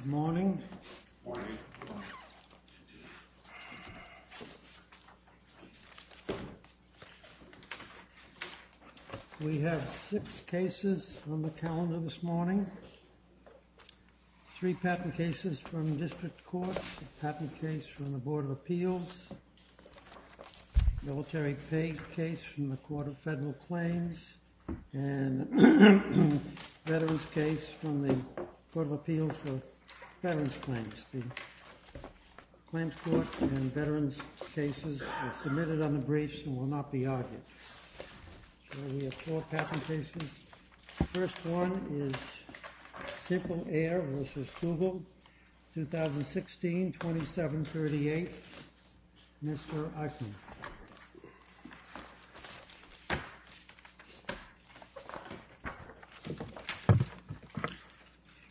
Good morning, we have six cases on the calendar this morning. Three patent cases from district courts, a patent case from the Board of Appeals, a military paid case from the Court of Federal Claims, and a veterans case from the Court of Appeals for Veterans Claims. The claims court and veterans cases are submitted on the briefs and will not be argued. We have four patent cases. The first one is SimpleAir v. Google, 2016-2738, Mr. Uchtman.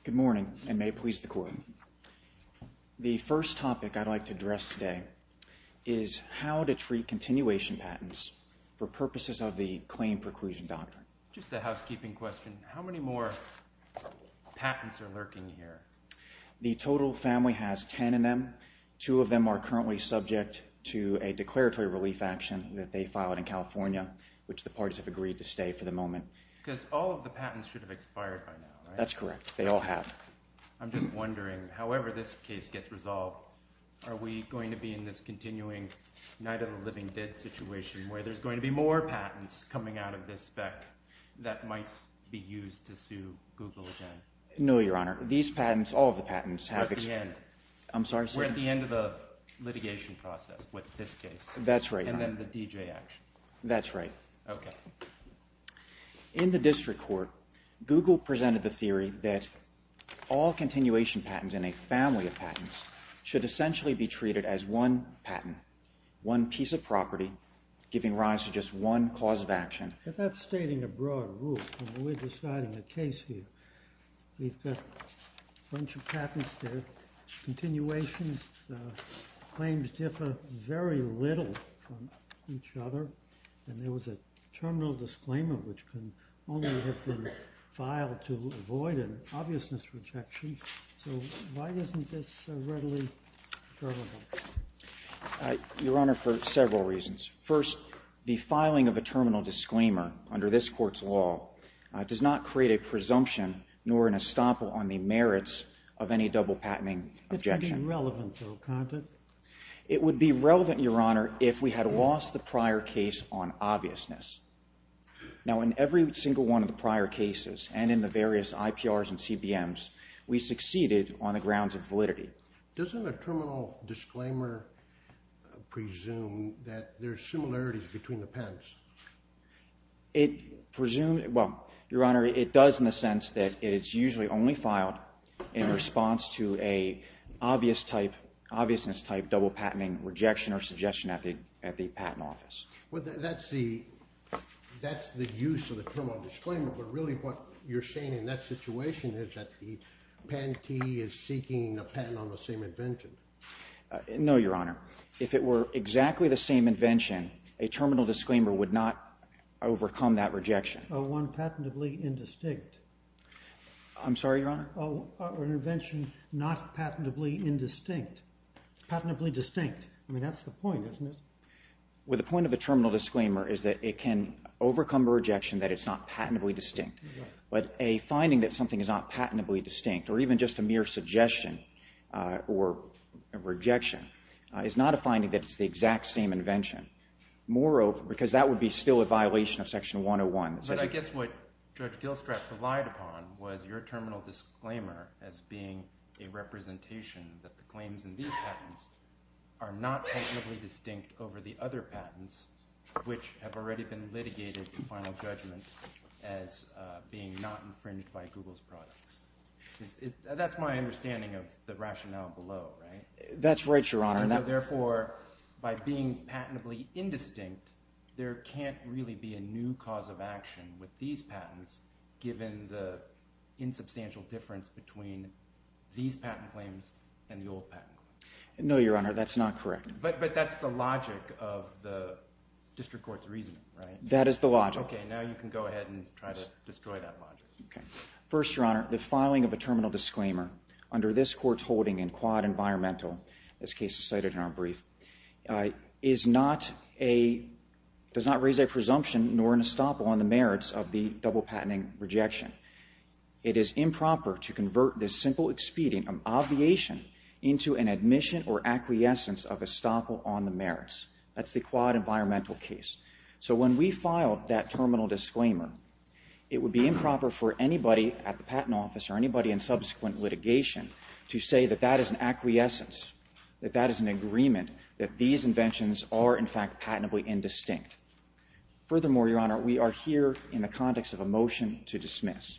Good morning, and may it please the Court. The first topic I'd like to address today is how to treat continuation patents for purposes of the claim preclusion doctrine. Just a housekeeping question, how many more patents are lurking here? The total family has ten of them. Two of them are currently subject to a declaratory relief action that they filed in California, which the parties have agreed to stay for the moment. Because all of the patents should have expired by now, right? That's correct, they all have. I'm just wondering, however this case gets resolved, are we going to be in this continuing night of the living dead situation where there's going to be more patents coming out of this spec that might be used to sue Google again? No, Your Honor. These patents, all of the patents, have expired. We're at the end. I'm sorry, sir? We're at the end of the litigation process with this case. That's right, Your Honor. And then the D.J. action. That's right. Okay. In the district court, Google presented the theory that all continuation patents and a family of patents should essentially be treated as one patent, one piece of property giving rise to just one cause of action. But that's stating a broad rule when we're deciding a case here. We've got a bunch of patents there, continuations, claims differ very little from each other, and there was a terminal disclaimer which can only have been filed to avoid an obviousness rejection. So why isn't this readily determinable? Your Honor, for several reasons. First, the filing of a terminal disclaimer under this court's law does not create a presumption nor an estoppel on the merits of any double patenting objection. It would be relevant, though, can't it? It would be relevant, Your Honor, if we had lost the prior case on obviousness. Now, in every single one of the prior cases and in the various IPRs and CBMs, we succeeded on the grounds of validity. Doesn't a terminal disclaimer presume that there are similarities between the patents? It presumes, well, Your Honor, it does in the sense that it is usually only filed in response to an obviousness-type double patenting rejection or suggestion at the patent office. Well, that's the use of the terminal disclaimer, but really what you're saying in that situation is that the patentee is seeking a patent on the same invention. No, Your Honor. If it were exactly the same invention, a terminal disclaimer would not overcome that rejection. One patentably indistinct. I'm sorry, Your Honor? An invention not patentably indistinct. Patentably distinct. I mean, that's the point, isn't it? Well, the point of the terminal disclaimer is that it can overcome a rejection that it's not patentably distinct, but a finding that something is not patentably distinct or even just a mere suggestion or rejection is not a finding that it's the exact same invention. Moreover, because that would be still a violation of Section 101. But I guess what Judge Gilstrat relied upon was your terminal disclaimer as being a representation that the claims in these patents are not patentably distinct over the other patents, which have already been litigated in final judgment as being not infringed by Google's products. That's my understanding of the rationale below, right? That's right, Your Honor. Therefore, by being patentably indistinct, there can't really be a new cause of action with these patents given the insubstantial difference between these patent claims and the old patent claims. No, Your Honor, that's not correct. But that's the logic of the district court's reasoning, right? That is the logic. Okay, now you can go ahead and try to destroy that logic. First, Your Honor, the filing of a terminal disclaimer under this Court's holding in Quad Environmental, this case is cited in our brief, does not raise a presumption nor an estoppel on the merits of the double-patenting rejection. It is improper to convert this simple expedient of obviation into an admission or acquiescence of estoppel on the merits. That's the Quad Environmental case. So when we filed that terminal disclaimer, it would be improper for anybody at the Patent Office or anybody in subsequent litigation to say that that is an acquiescence, that that is an agreement, that these inventions are, in fact, patentably indistinct. Furthermore, Your Honor, we are here in the context of a motion to dismiss.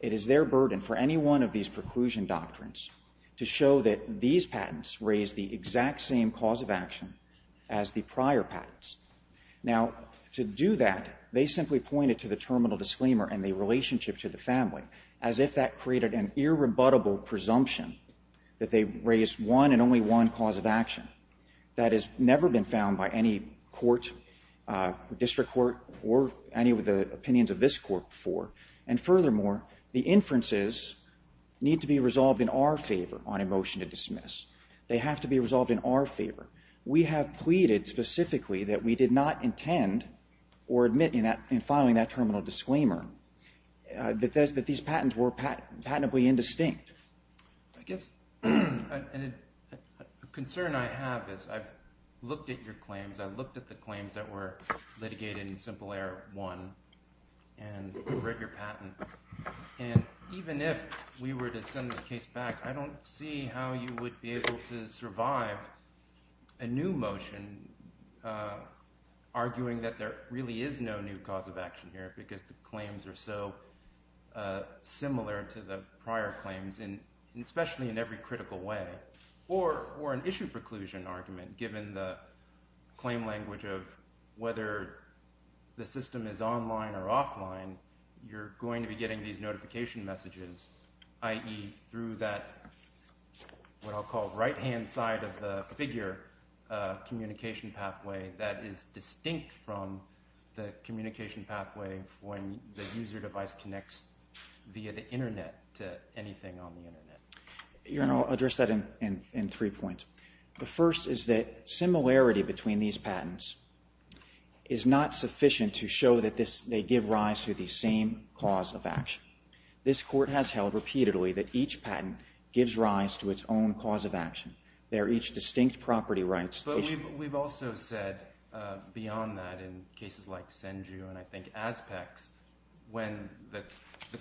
It is their burden for any one of these preclusion doctrines to show that these patents raise the exact same cause of action as the prior patents. Now, to do that, they simply pointed to the terminal disclaimer and the relationship to the family as if that created an irrebuttable presumption that they raise one and only one cause of action. That has never been found by any court, district court, or any of the opinions of this Court before. And furthermore, the inferences need to be resolved in our favor on a motion to dismiss. They have to be resolved in our favor. We have pleaded specifically that we did not intend or admit in filing that terminal disclaimer that these patents were patentably indistinct. I guess a concern I have is I've looked at your claims. I've looked at the claims that were litigated in Simple Error 1 and read your patent. And even if we were to send this case back, I don't see how you would be able to survive a new motion arguing that there really is no new cause of action here because the claims are so similar to the prior claims, especially in every critical way, or an issue preclusion argument, given the claim language of whether the system is online or offline, you're going to be getting these notification messages, i.e. through that what I'll call right-hand side of the figure communication pathway that is distinct from the communication pathway when the user device connects via the Internet to anything on the Internet. Your Honor, I'll address that in three points. The first is that similarity between these patents is not sufficient to show that they give rise to the same cause of action. This Court has held repeatedly that each patent gives rise to its own cause of action. They are each distinct property rights issue. But we've also said beyond that in cases like Senju and, I think, ASPEX, when the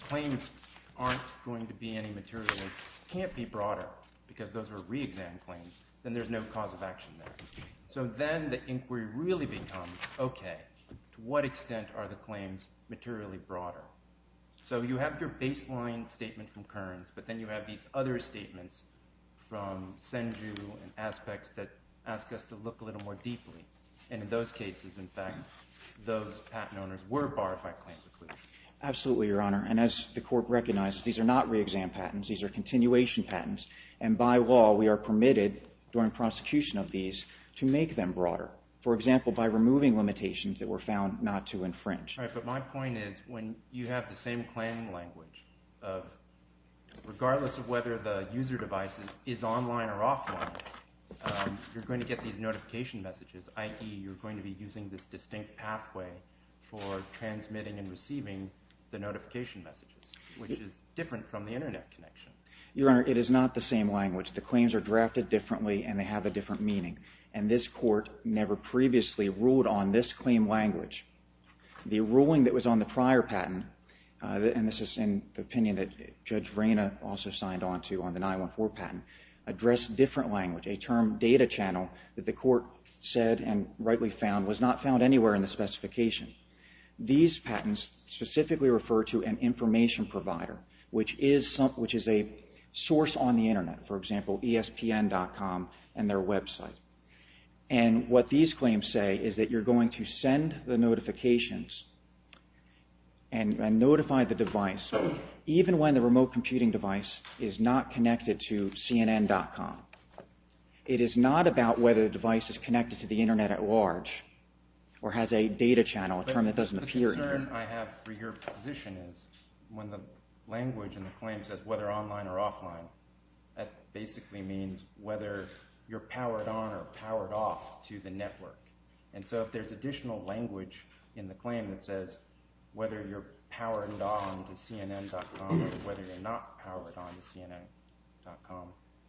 claims aren't going to be any material and can't be broader because those were re-exam claims, then there's no cause of action there. So then the inquiry really becomes, okay, to what extent are the claims materially broader? So you have your baseline statement from Kearns, but then you have these other statements from Senju and ASPEX that ask us to look a little more deeply. And in those cases, in fact, those patent owners were barred by claims. Absolutely, Your Honor. And as the Court recognizes, these are not re-exam patents. These are continuation patents. And by law, we are permitted during prosecution of these to make them broader, for example, by removing limitations that were found not to infringe. All right, but my point is when you have the same claim language, regardless of whether the user device is online or offline, you're going to get these notification messages, i.e., you're going to be using this distinct pathway for transmitting and receiving the notification messages, which is different from the Internet connection. Your Honor, it is not the same language. The claims are drafted differently, and they have a different meaning. And this Court never previously ruled on this claim language. The ruling that was on the prior patent, and this is in the opinion that Judge Vrena also signed on to on the 914 patent, addressed different language, a term data channel that the Court said and rightly found was not found anywhere in the specification. These patents specifically refer to an information provider, which is a source on the Internet, for example, ESPN.com and their website. And what these claims say is that you're going to send the notifications and notify the device even when the remote computing device is not connected to CNN.com. It is not about whether the device is connected to the Internet at large or has a data channel, a term that doesn't appear. But the concern I have for your position is when the language in the claim says whether online or offline, that basically means whether you're powered on or powered off to the network. And so if there's additional language in the claim that says whether you're powered on to CNN.com or whether you're not powered on to CNN.com,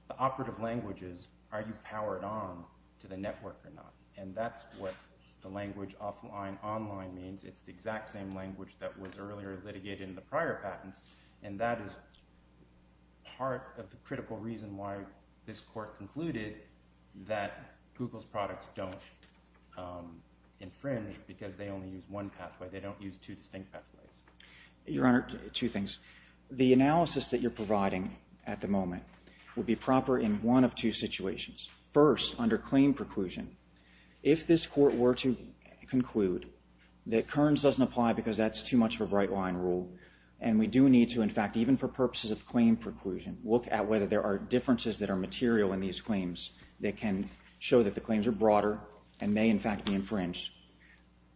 the operative language is are you powered on to the network or not. And that's what the language offline, online means. It's the exact same language that was earlier litigated in the prior patents, and that is part of the critical reason why this court concluded that Google's products don't infringe because they only use one pathway. They don't use two distinct pathways. Your Honor, two things. The analysis that you're providing at the moment would be proper in one of two situations. First, under claim preclusion, if this court were to conclude that Kearns doesn't apply because that's too much of a bright-line rule, and we do need to, in fact, even for purposes of claim preclusion, look at whether there are differences that are material in these claims that can show that the claims are broader and may, in fact, be infringed,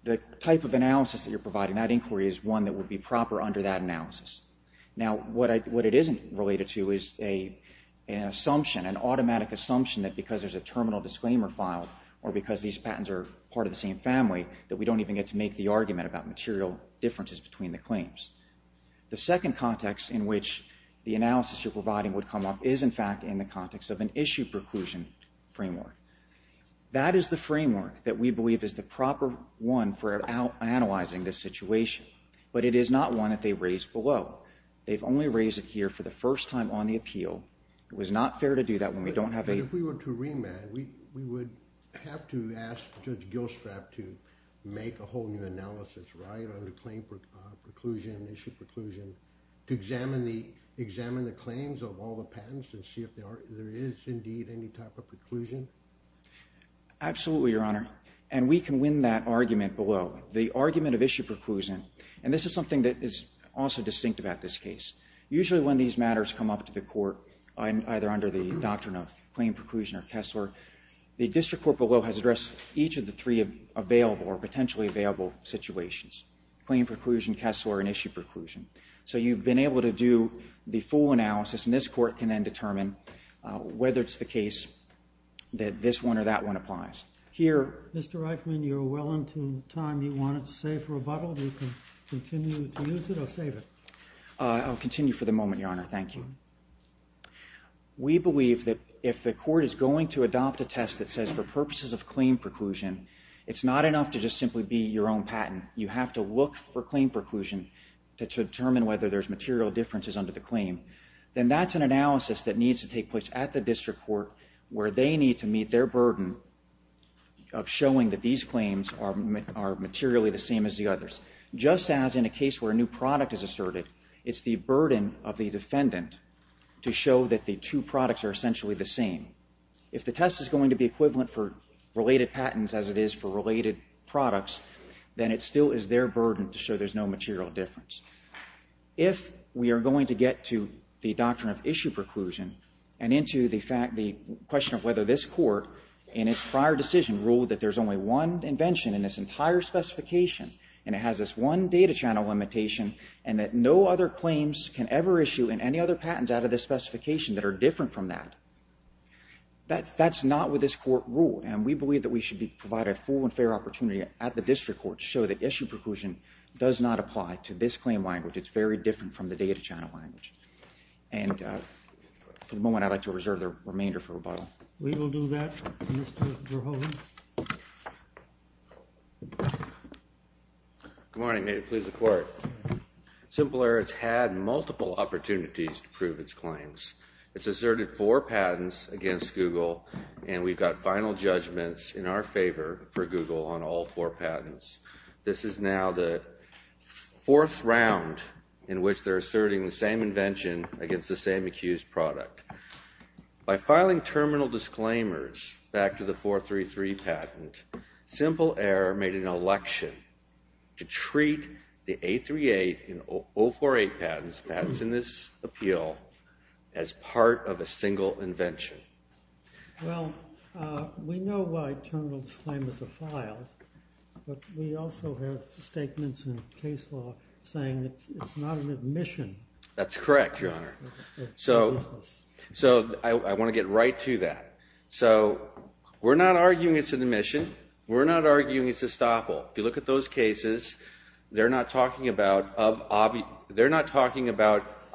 the type of analysis that you're providing, that inquiry, is one that would be proper under that analysis. Now, what it isn't related to is an assumption, an automatic assumption that because there's a terminal disclaimer filed or because these patents are part of the same family, that we don't even get to make the argument about material differences between the claims. The second context in which the analysis you're providing would come up is, in fact, in the context of an issue preclusion framework. That is the framework that we believe is the proper one for analyzing this situation, but it is not one that they raised below. They've only raised it here for the first time on the appeal. It was not fair to do that when we don't have a... make a whole new analysis, right, on the claim preclusion, issue preclusion, to examine the claims of all the patents and see if there is indeed any type of preclusion. Absolutely, Your Honor, and we can win that argument below. The argument of issue preclusion, and this is something that is also distinct about this case. Usually when these matters come up to the court, either under the doctrine of claim preclusion or Kessler, the district court below has addressed each of the three available or potentially available situations. Claim preclusion, Kessler, and issue preclusion. So you've been able to do the full analysis, and this court can then determine whether it's the case that this one or that one applies. Here... Mr. Reichman, you're well into the time you wanted to save for rebuttal. You can continue to use it or save it. I'll continue for the moment, Your Honor. Thank you. We believe that if the court is going to adopt a test that says for purposes of claim preclusion, it's not enough to just simply be your own patent. You have to look for claim preclusion to determine whether there's material differences under the claim. Then that's an analysis that needs to take place at the district court where they need to meet their burden of showing that these claims are materially the same as the others. Just as in a case where a new product is asserted, it's the burden of the defendant to show that the two products are essentially the same. If the test is going to be equivalent for related patents as it is for related products, then it still is their burden to show there's no material difference. If we are going to get to the doctrine of issue preclusion and into the question of whether this court, in its prior decision, ruled that there's only one invention in this entire specification and it has this one data channel limitation and that no other claims can ever issue in any other patents out of this specification that are different from that, that's not what this court ruled. And we believe that we should provide a full and fair opportunity at the district court to show that issue preclusion does not apply to this claim language. It's very different from the data channel language. And for the moment, I'd like to reserve the remainder for rebuttal. We will do that, Mr. Verhoeven. Good morning. May it please the court. Simple Error has had multiple opportunities to prove its claims. It's asserted four patents against Google and we've got final judgments in our favor for Google on all four patents. This is now the fourth round in which they're asserting the same invention against the same accused product. By filing terminal disclaimers back to the 433 patent, Simple Error made an election to treat the 838 and 048 patents in this appeal as part of a single invention. Well, we know why terminal disclaimers are filed, but we also have statements in case law saying it's not an admission. That's correct, Your Honor. So I want to get right to that. So we're not arguing it's an admission. We're not arguing it's a estoppel. If you look at those cases, they're not talking about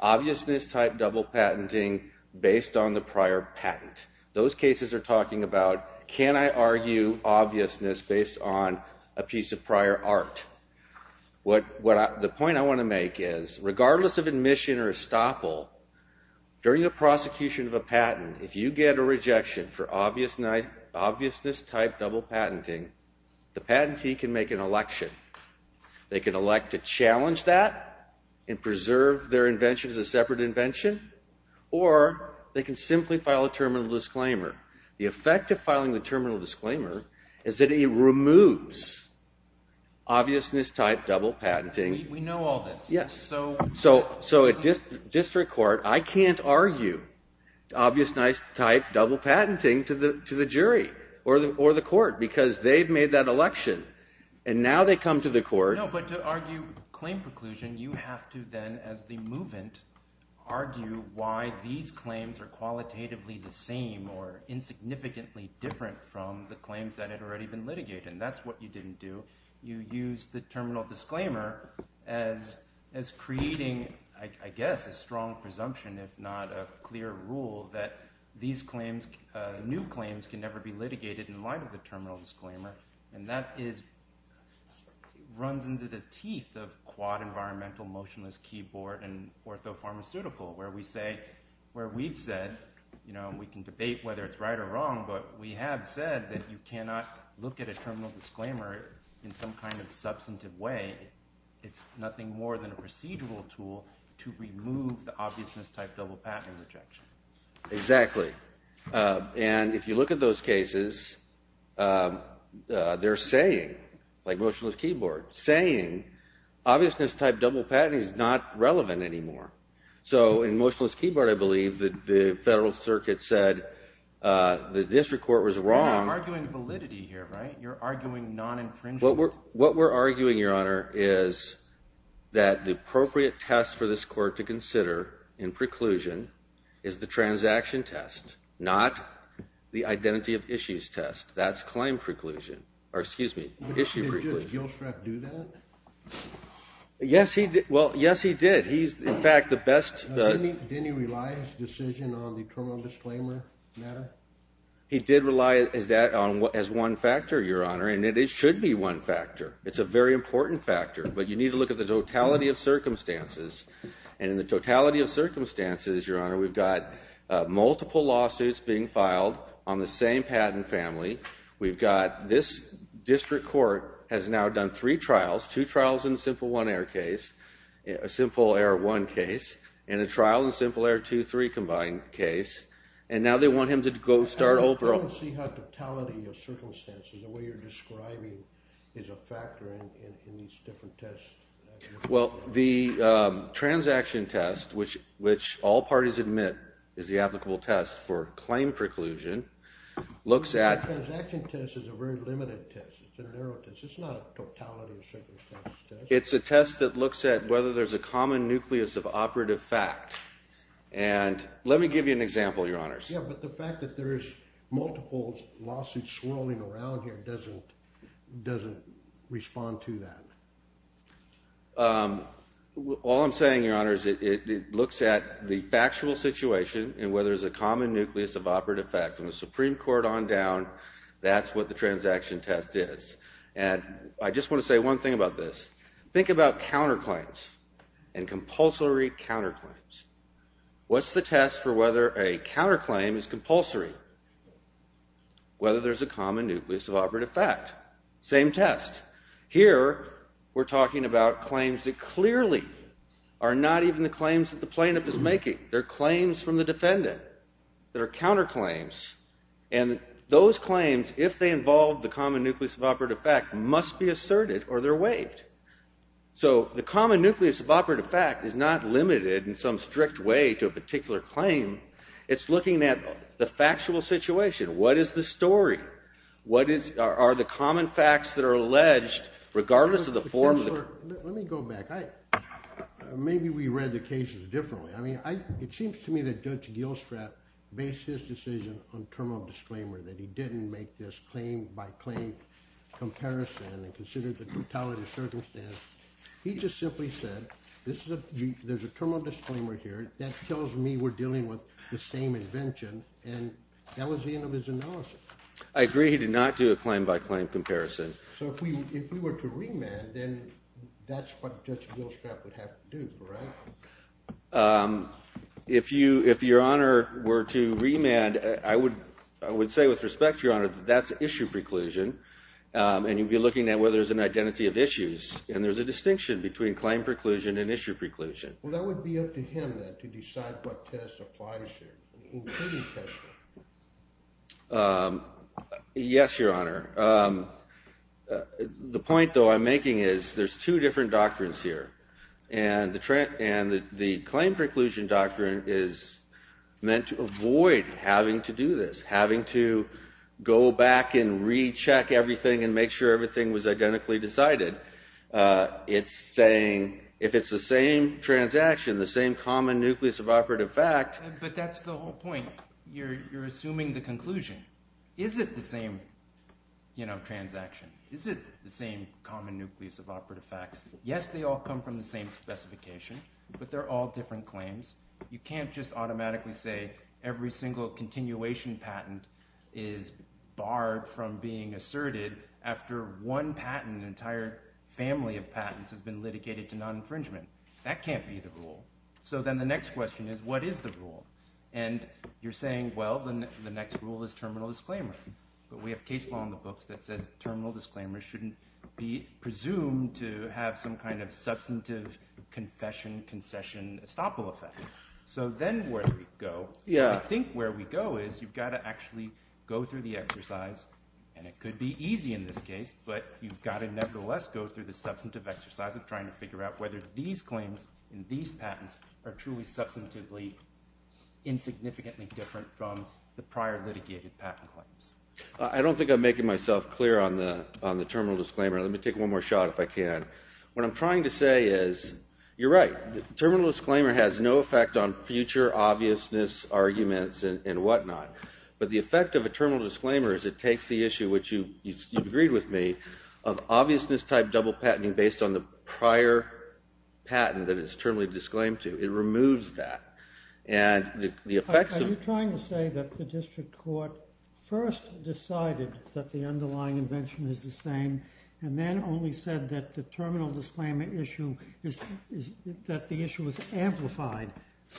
obviousness-type double patenting based on the prior patent. Those cases are talking about, can I argue obviousness based on a piece of prior art? The point I want to make is, regardless of admission or estoppel, during the prosecution of a patent, if you get a rejection for obviousness-type double patenting, the patentee can make an election. They can elect to challenge that and preserve their invention as a separate invention, or they can simply file a terminal disclaimer. The effect of filing the terminal disclaimer is that it removes obviousness-type double patenting. We know all this. Yes. So at district court, I can't argue obviousness-type double patenting to the jury or the court because they've made that election, and now they come to the court. No, but to argue claim preclusion, you have to then, as the movant, argue why these claims are qualitatively the same or insignificantly different from the claims that had already been litigated, and that's what you didn't do. You used the terminal disclaimer as creating, I guess, a strong presumption, if not a clear rule, that these claims, new claims, can never be litigated in light of the terminal disclaimer, and that runs into the teeth of quad-environmental motionless keyboard and orthopharmaceutical, where we say, where we've said, and we can debate whether it's right or wrong, but we have said that you cannot look at a terminal disclaimer in some kind of substantive way. It's nothing more than a procedural tool to remove the obviousness-type double patent rejection. Exactly. And if you look at those cases, they're saying, like motionless keyboard, saying obviousness-type double patenting is not relevant anymore. So in motionless keyboard, I believe, the federal circuit said the district court was wrong. You're not arguing validity here, right? You're arguing non-infringement? What we're arguing, Your Honor, is that the appropriate test for this court to consider in preclusion is the transaction test, not the identity of issues test. That's claim preclusion, or excuse me, issue preclusion. Did Judge Gilstrap do that? Yes, he did. In fact, the best... Didn't he rely, his decision, on the terminal disclaimer matter? He did rely on that as one factor, Your Honor, and it should be one factor. It's a very important factor, but you need to look at the totality of circumstances. And in the totality of circumstances, Your Honor, we've got multiple lawsuits being filed on the same patent family. We've got this district court has now done three trials, two trials in a Simple Error 1 case and a trial in a Simple Error 2-3 combined case, and now they want him to go start over all... I don't see how totality of circumstances, the way you're describing, is a factor in these different tests. Well, the transaction test, which all parties admit is the applicable test for claim preclusion, looks at... The transaction test is a very limited test. It's a narrow test. It's not a totality of circumstances test. It's a test that looks at whether there's a common nucleus of operative fact. And let me give you an example, Your Honors. Yeah, but the fact that there is multiple lawsuits swirling around here doesn't respond to that. All I'm saying, Your Honors, it looks at the factual situation and whether there's a common nucleus of operative fact. From the Supreme Court on down, that's what the transaction test is. And I just want to say one thing about this. Think about counterclaims and compulsory counterclaims. What's the test for whether a counterclaim is compulsory? Whether there's a common nucleus of operative fact. Same test. Here, we're talking about claims that clearly are not even the claims that the plaintiff is making. They're claims from the defendant. They're counterclaims. And those claims, if they involve the common nucleus of operative fact, must be asserted or they're waived. So the common nucleus of operative fact is not limited in some strict way to a particular claim. It's looking at the factual situation. What is the story? Are the common facts that are alleged, regardless of the form... Let me go back. Maybe we read the cases differently. It seems to me that Judge Gilstrap based his decision on terminal disclaimer, that he didn't make this claim-by-claim comparison and considered the totality of circumstances. He just simply said, there's a terminal disclaimer here that tells me we're dealing with the same invention. And that was the end of his analysis. I agree he did not do a claim-by-claim comparison. So if we were to remand, then that's what Judge Gilstrap would have to do, right? If Your Honor were to remand, I would say with respect to Your Honor, And you'd be looking at whether there's an identity of issues. And there's a distinction between claim preclusion and issue preclusion. Well, that would be up to him then to decide what test applies here, including testing. Yes, Your Honor. The point, though, I'm making is there's two different doctrines here. And the claim preclusion doctrine is meant to avoid having to do this, having to go back and recheck everything and make sure everything was identically decided. It's saying if it's the same transaction, the same common nucleus of operative fact... But that's the whole point. You're assuming the conclusion. Is it the same transaction? Is it the same common nucleus of operative facts? Yes, they all come from the same specification, but they're all different claims. You can't just automatically say every single continuation patent is barred from being asserted after one patent, an entire family of patents, has been litigated to non-infringement. That can't be the rule. So then the next question is, what is the rule? And you're saying, well, the next rule is terminal disclaimer. But we have case law in the books that says terminal disclaimer shouldn't be presumed to have some kind of substantive confession-concession estoppel effect. So then where do we go? I think where we go is you've got to actually go through the exercise, and it could be easy in this case, but you've got to nevertheless go through the substantive exercise of trying to figure out whether these claims and these patents are truly substantively insignificantly different from the prior litigated patent claims. I don't think I'm making myself clear on the terminal disclaimer. Let me take one more shot if I can. What I'm trying to say is, you're right. The terminal disclaimer has no effect on future obviousness arguments and whatnot. But the effect of a terminal disclaimer is it takes the issue, which you've agreed with me, of obviousness-type double patenting based on the prior patent that it's terminally disclaimed to. It removes that. Are you trying to say that the district court first decided that the underlying invention is the same and then only said that the terminal disclaimer issue is that the issue is amplified?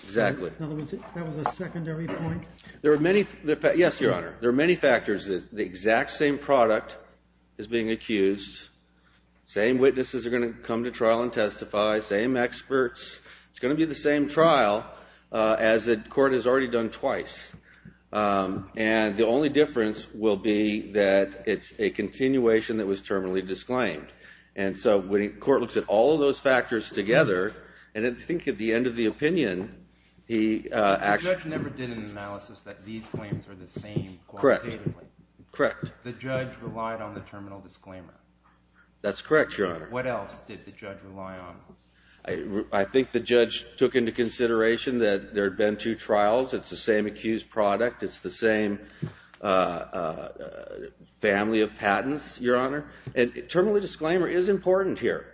Exactly. In other words, that was a secondary point? Yes, Your Honor. There are many factors. The exact same product is being accused. Same witnesses are going to come to trial and testify. Same experts. It's going to be the same trial as the court has already done twice. And the only difference will be that it's a continuation that was terminally disclaimed. And so the court looks at all of those factors together, and I think at the end of the opinion... The judge never did an analysis that these claims are the same quantitatively. Correct. The judge relied on the terminal disclaimer. That's correct, Your Honor. What else did the judge rely on? I think the judge took into consideration that there had been two trials. It's the same accused product. It's the same family of patents, Your Honor. And terminally disclaimer is important here.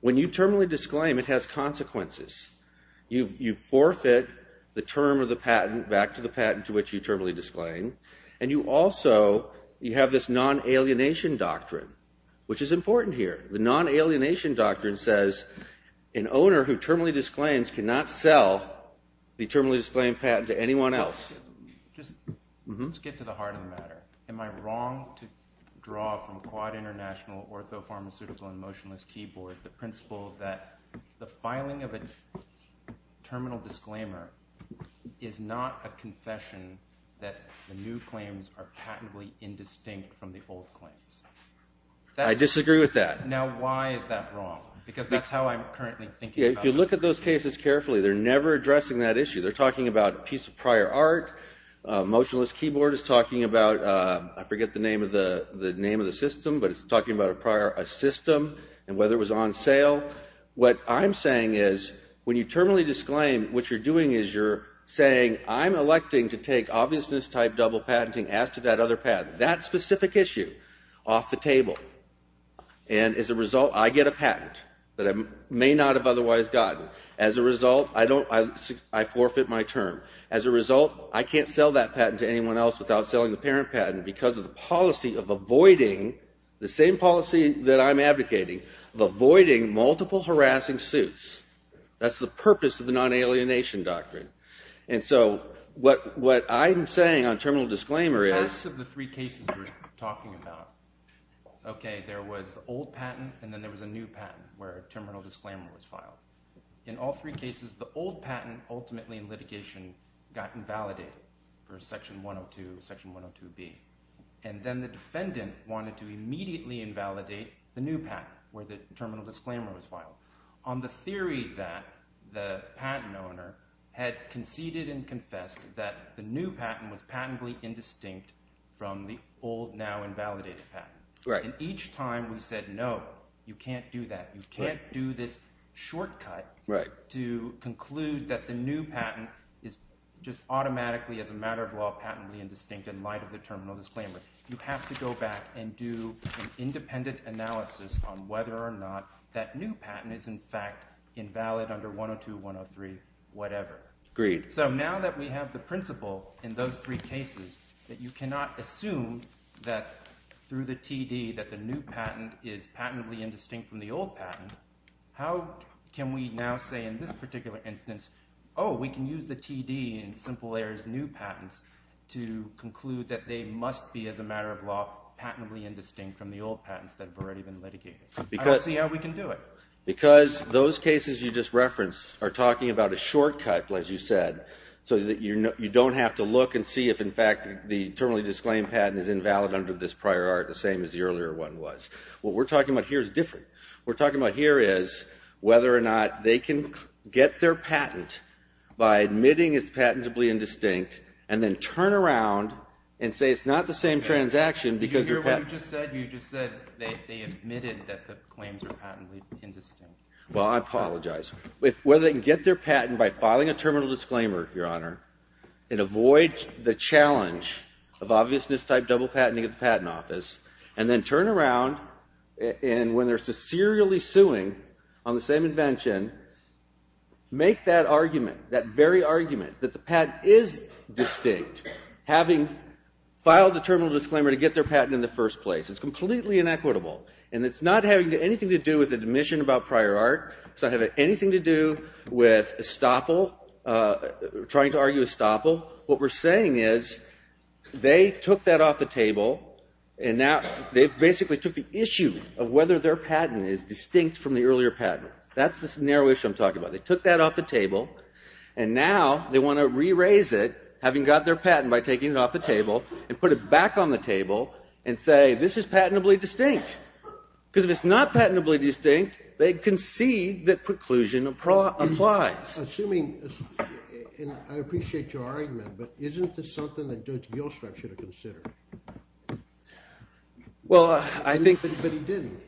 When you terminally disclaim, it has consequences. You forfeit the term of the patent back to the patent to which you terminally disclaim, and you also have this non-alienation doctrine, which is important here. The non-alienation doctrine says an owner who terminally disclaims cannot sell the terminally disclaimed patent to anyone else. Let's get to the heart of the matter. Am I wrong to draw from Quad International Orthopharmaceutical and Motionless Keyboard the principle that the filing of a terminal disclaimer is not a confession that the new claims are patently indistinct from the old claims? I disagree with that. Now, why is that wrong? Because that's how I'm currently thinking about it. If you look at those cases carefully, they're never addressing that issue. They're talking about a piece of prior art. Motionless Keyboard is talking about, I forget the name of the system, but it's talking about a prior system and whether it was on sale. What I'm saying is when you terminally disclaim, what you're doing is you're saying, I'm electing to take obviousness-type double patenting as to that other patent. That specific issue off the table. And as a result, I get a patent that I may not have otherwise gotten. As a result, I forfeit my term. As a result, I can't sell that patent to anyone else without selling the parent patent because of the policy of avoiding, the same policy that I'm advocating, of avoiding multiple harassing suits. That's the purpose of the non-alienation doctrine. And so what I'm saying on terminal disclaimer is... The rest of the three cases we're talking about, okay, there was the old patent and then there was a new patent where a terminal disclaimer was filed. In all three cases, the old patent, ultimately in litigation, got invalidated for Section 102, Section 102B. And then the defendant wanted to immediately invalidate the new patent where the terminal disclaimer was filed. On the theory that the patent owner had conceded and confessed that the new patent was patently indistinct from the old, now-invalidated patent. And each time we said, no, you can't do that. You can't do this shortcut to conclude that the new patent is just automatically, as a matter of law, patently indistinct in light of the terminal disclaimer. You have to go back and do an independent analysis on whether or not that new patent is, in fact, invalid under 102, 103, whatever. So now that we have the principle in those three cases that you cannot assume that through the TD that the new patent is patently indistinct from the old patent, how can we now say in this particular instance, oh, we can use the TD in Simple Air's new patents to conclude that they must be, as a matter of law, patently indistinct from the old patents that have already been litigated? I don't see how we can do it. Because those cases you just referenced are talking about a shortcut, as you said, so that you don't have to look and see if, in fact, the terminally disclaimed patent is invalid under this prior art, the same as the earlier one was. What we're talking about here is different. What we're talking about here is whether or not they can get their patent by admitting it's patentably indistinct and then turn around and say it's not the same transaction because their patent... You just said they admitted that the claims are patently indistinct. Well, I apologize. Whether they can get their patent by filing a terminal disclaimer, Your Honor, and avoid the challenge of obviousness-type double patenting at the Patent Office, and then turn around, and when they're sincerely suing on the same invention, make that argument, that very argument, that the patent is distinct, having filed a terminal disclaimer to get their patent in the first place. It's completely inequitable, and it's not having anything to do with admission about prior art. It's not having anything to do with estoppel, trying to argue estoppel. What we're saying is they took that off the table, and now they basically took the issue of whether their patent is distinct from the earlier patent. That's the narrow issue I'm talking about. They took that off the table, and now they want to re-raise it, having got their patent by taking it off the table, and put it back on the table, and say, this is patentably distinct, because if it's not patentably distinct, they concede that preclusion applies. Assuming, and I appreciate your argument, but isn't this something that Judge Gilstrup should have considered? Well, I think... But he didn't.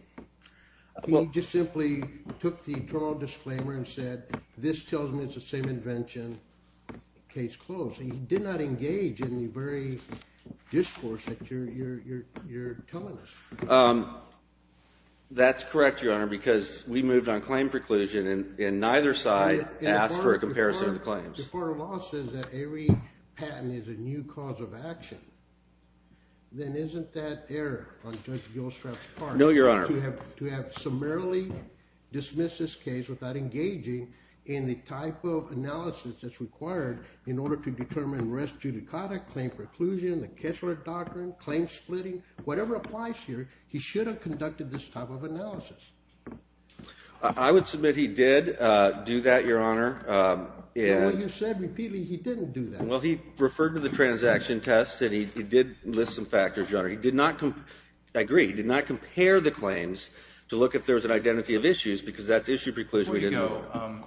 He just simply took the terminal disclaimer and said, this tells me it's the same invention, case closed. He did not engage in the very discourse that you're telling us. That's correct, Your Honor, because we moved on claim preclusion, and neither side asked for a comparison of the claims. If our law says that every patent is a new cause of action, then isn't that error on Judge Gilstrup's part? No, Your Honor. To have summarily dismissed this case without engaging in the type of analysis that's required in order to determine rest judicata, claim preclusion, the Kessler Doctrine, claim splitting, whatever applies here, he should have conducted this type of analysis. I would submit he did do that, Your Honor. Well, you said repeatedly he didn't do that. Well, he referred to the transaction test, and he did list some factors, Your Honor. He did not... I agree, he did not compare the claims to look if there was an identity of issues, because that's issue preclusion. Before you go,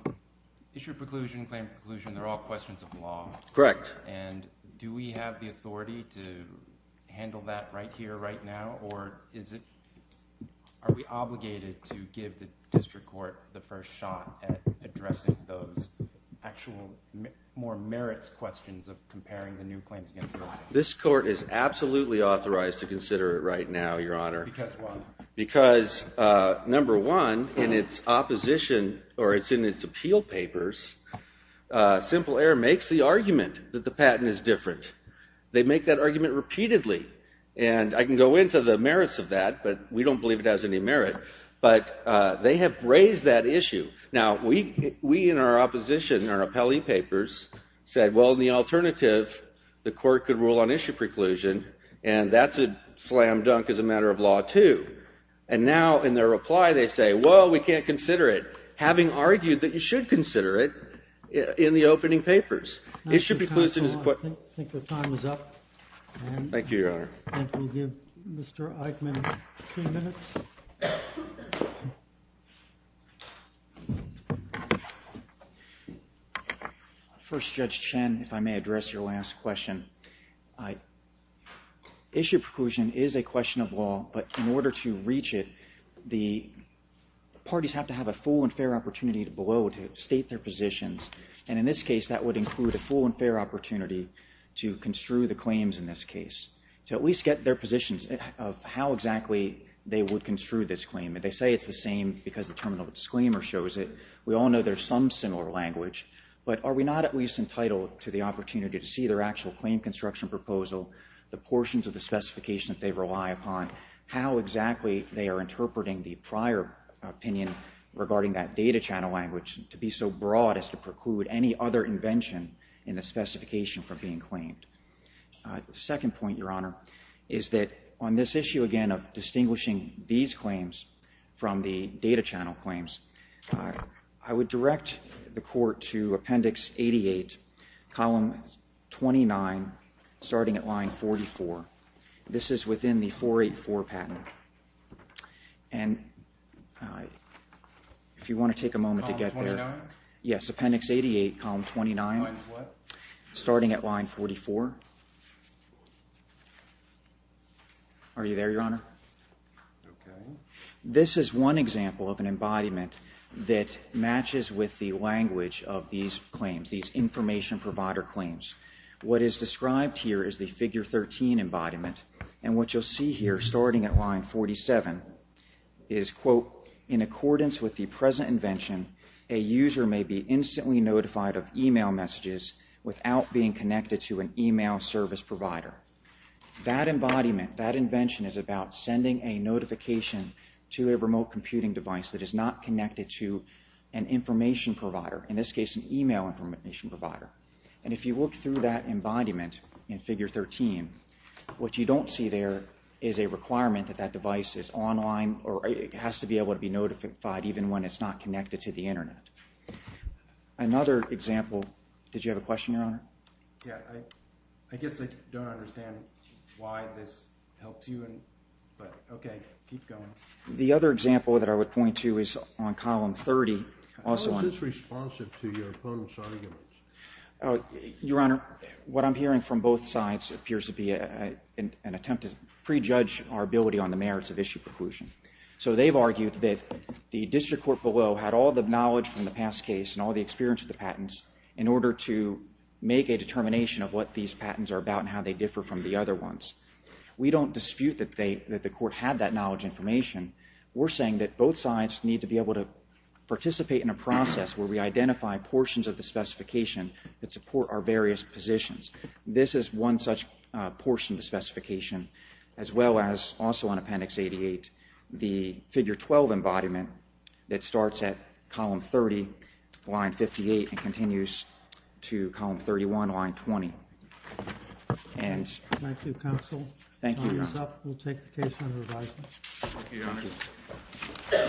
issue preclusion, claim preclusion, they're all questions of law. Correct. And do we have the authority to handle that right here, right now, or are we obligated to give the district court the first shot at addressing those actual, more merits questions of comparing the new claims against the old? This court is absolutely authorized to consider it right now, Your Honor. Because what? Because, number one, in its opposition, or it's in its appeal papers, Simple Air makes the argument that the patent is different. They make that argument repeatedly. And I can go into the merits of that, but we don't believe it has any merit. But they have raised that issue. Now, we in our opposition, our appellee papers, said, well, the alternative, the court could rule on issue preclusion, and that's a slam dunk as a matter of law, too. And now, in their reply, they say, well, we can't consider it, having argued that you should consider it in the opening papers. Issue preclusion is... I think your time is up. Thank you, Your Honor. And we'll give Mr. Eichmann two minutes. First, Judge Chen, if I may address your last question. Issue preclusion is a question of law, but in order to reach it, the parties have to have a full and fair opportunity to below to state their positions. And in this case, that would include a full and fair opportunity to construe the claims in this case, to at least get their positions of how exactly they would construe this claim. They say it's the same because the terminal disclaimer shows it. We all know there's some similar language, but are we not at least entitled to the opportunity to see their actual claim construction proposal, the portions of the specification that they rely upon, how exactly they are interpreting the prior opinion regarding that data channel language to be so broad as to preclude any other invention in the specification from being claimed? The second point, Your Honor, is that on this issue, again, of distinguishing these claims from the data channel claims, I would direct the Court to Appendix 88, column 29, starting at line 44. This is within the 484 patent. And if you want to take a moment to get there. Yes, Appendix 88, column 29, starting at line 44. Are you there, Your Honor? Okay. This is one example of an embodiment that matches with the language of these claims, these information provider claims. What is described here is the figure 13 embodiment. And what you'll see here, starting at line 47, is, quote, in accordance with the present invention, a user may be instantly notified of e-mail messages without being connected to an e-mail service provider. That embodiment, that invention, is about sending a notification to a remote computing device that is not connected to an information provider, in this case, an e-mail information provider. And if you look through that embodiment in figure 13, what you don't see there is a requirement that that device is online, or it has to be able to be notified even when it's not connected to the Internet. Another example... Did you have a question, Your Honor? Yeah. I guess I don't understand why this helps you, but okay, keep going. The other example that I would point to is on column 30. How is this responsive to your opponents' arguments? Your Honor, what I'm hearing from both sides appears to be an attempt to prejudge our ability on the merits of issue preclusion. So they've argued that the district court below had all the knowledge from the past case and all the experience of the patents in order to make a determination of what these patents are about and how they differ from the other ones. We don't dispute that the court had that knowledge information. We're saying that both sides need to be able to participate in a process where we identify portions of the specification that support our various positions. This is one such portion of the specification, as well as also on Appendix 88, the Figure 12 embodiment that starts at column 30, line 58, and continues to column 31, line 20. And... Thank you, counsel. We'll take the case under revisal. Thank you, Your Honor.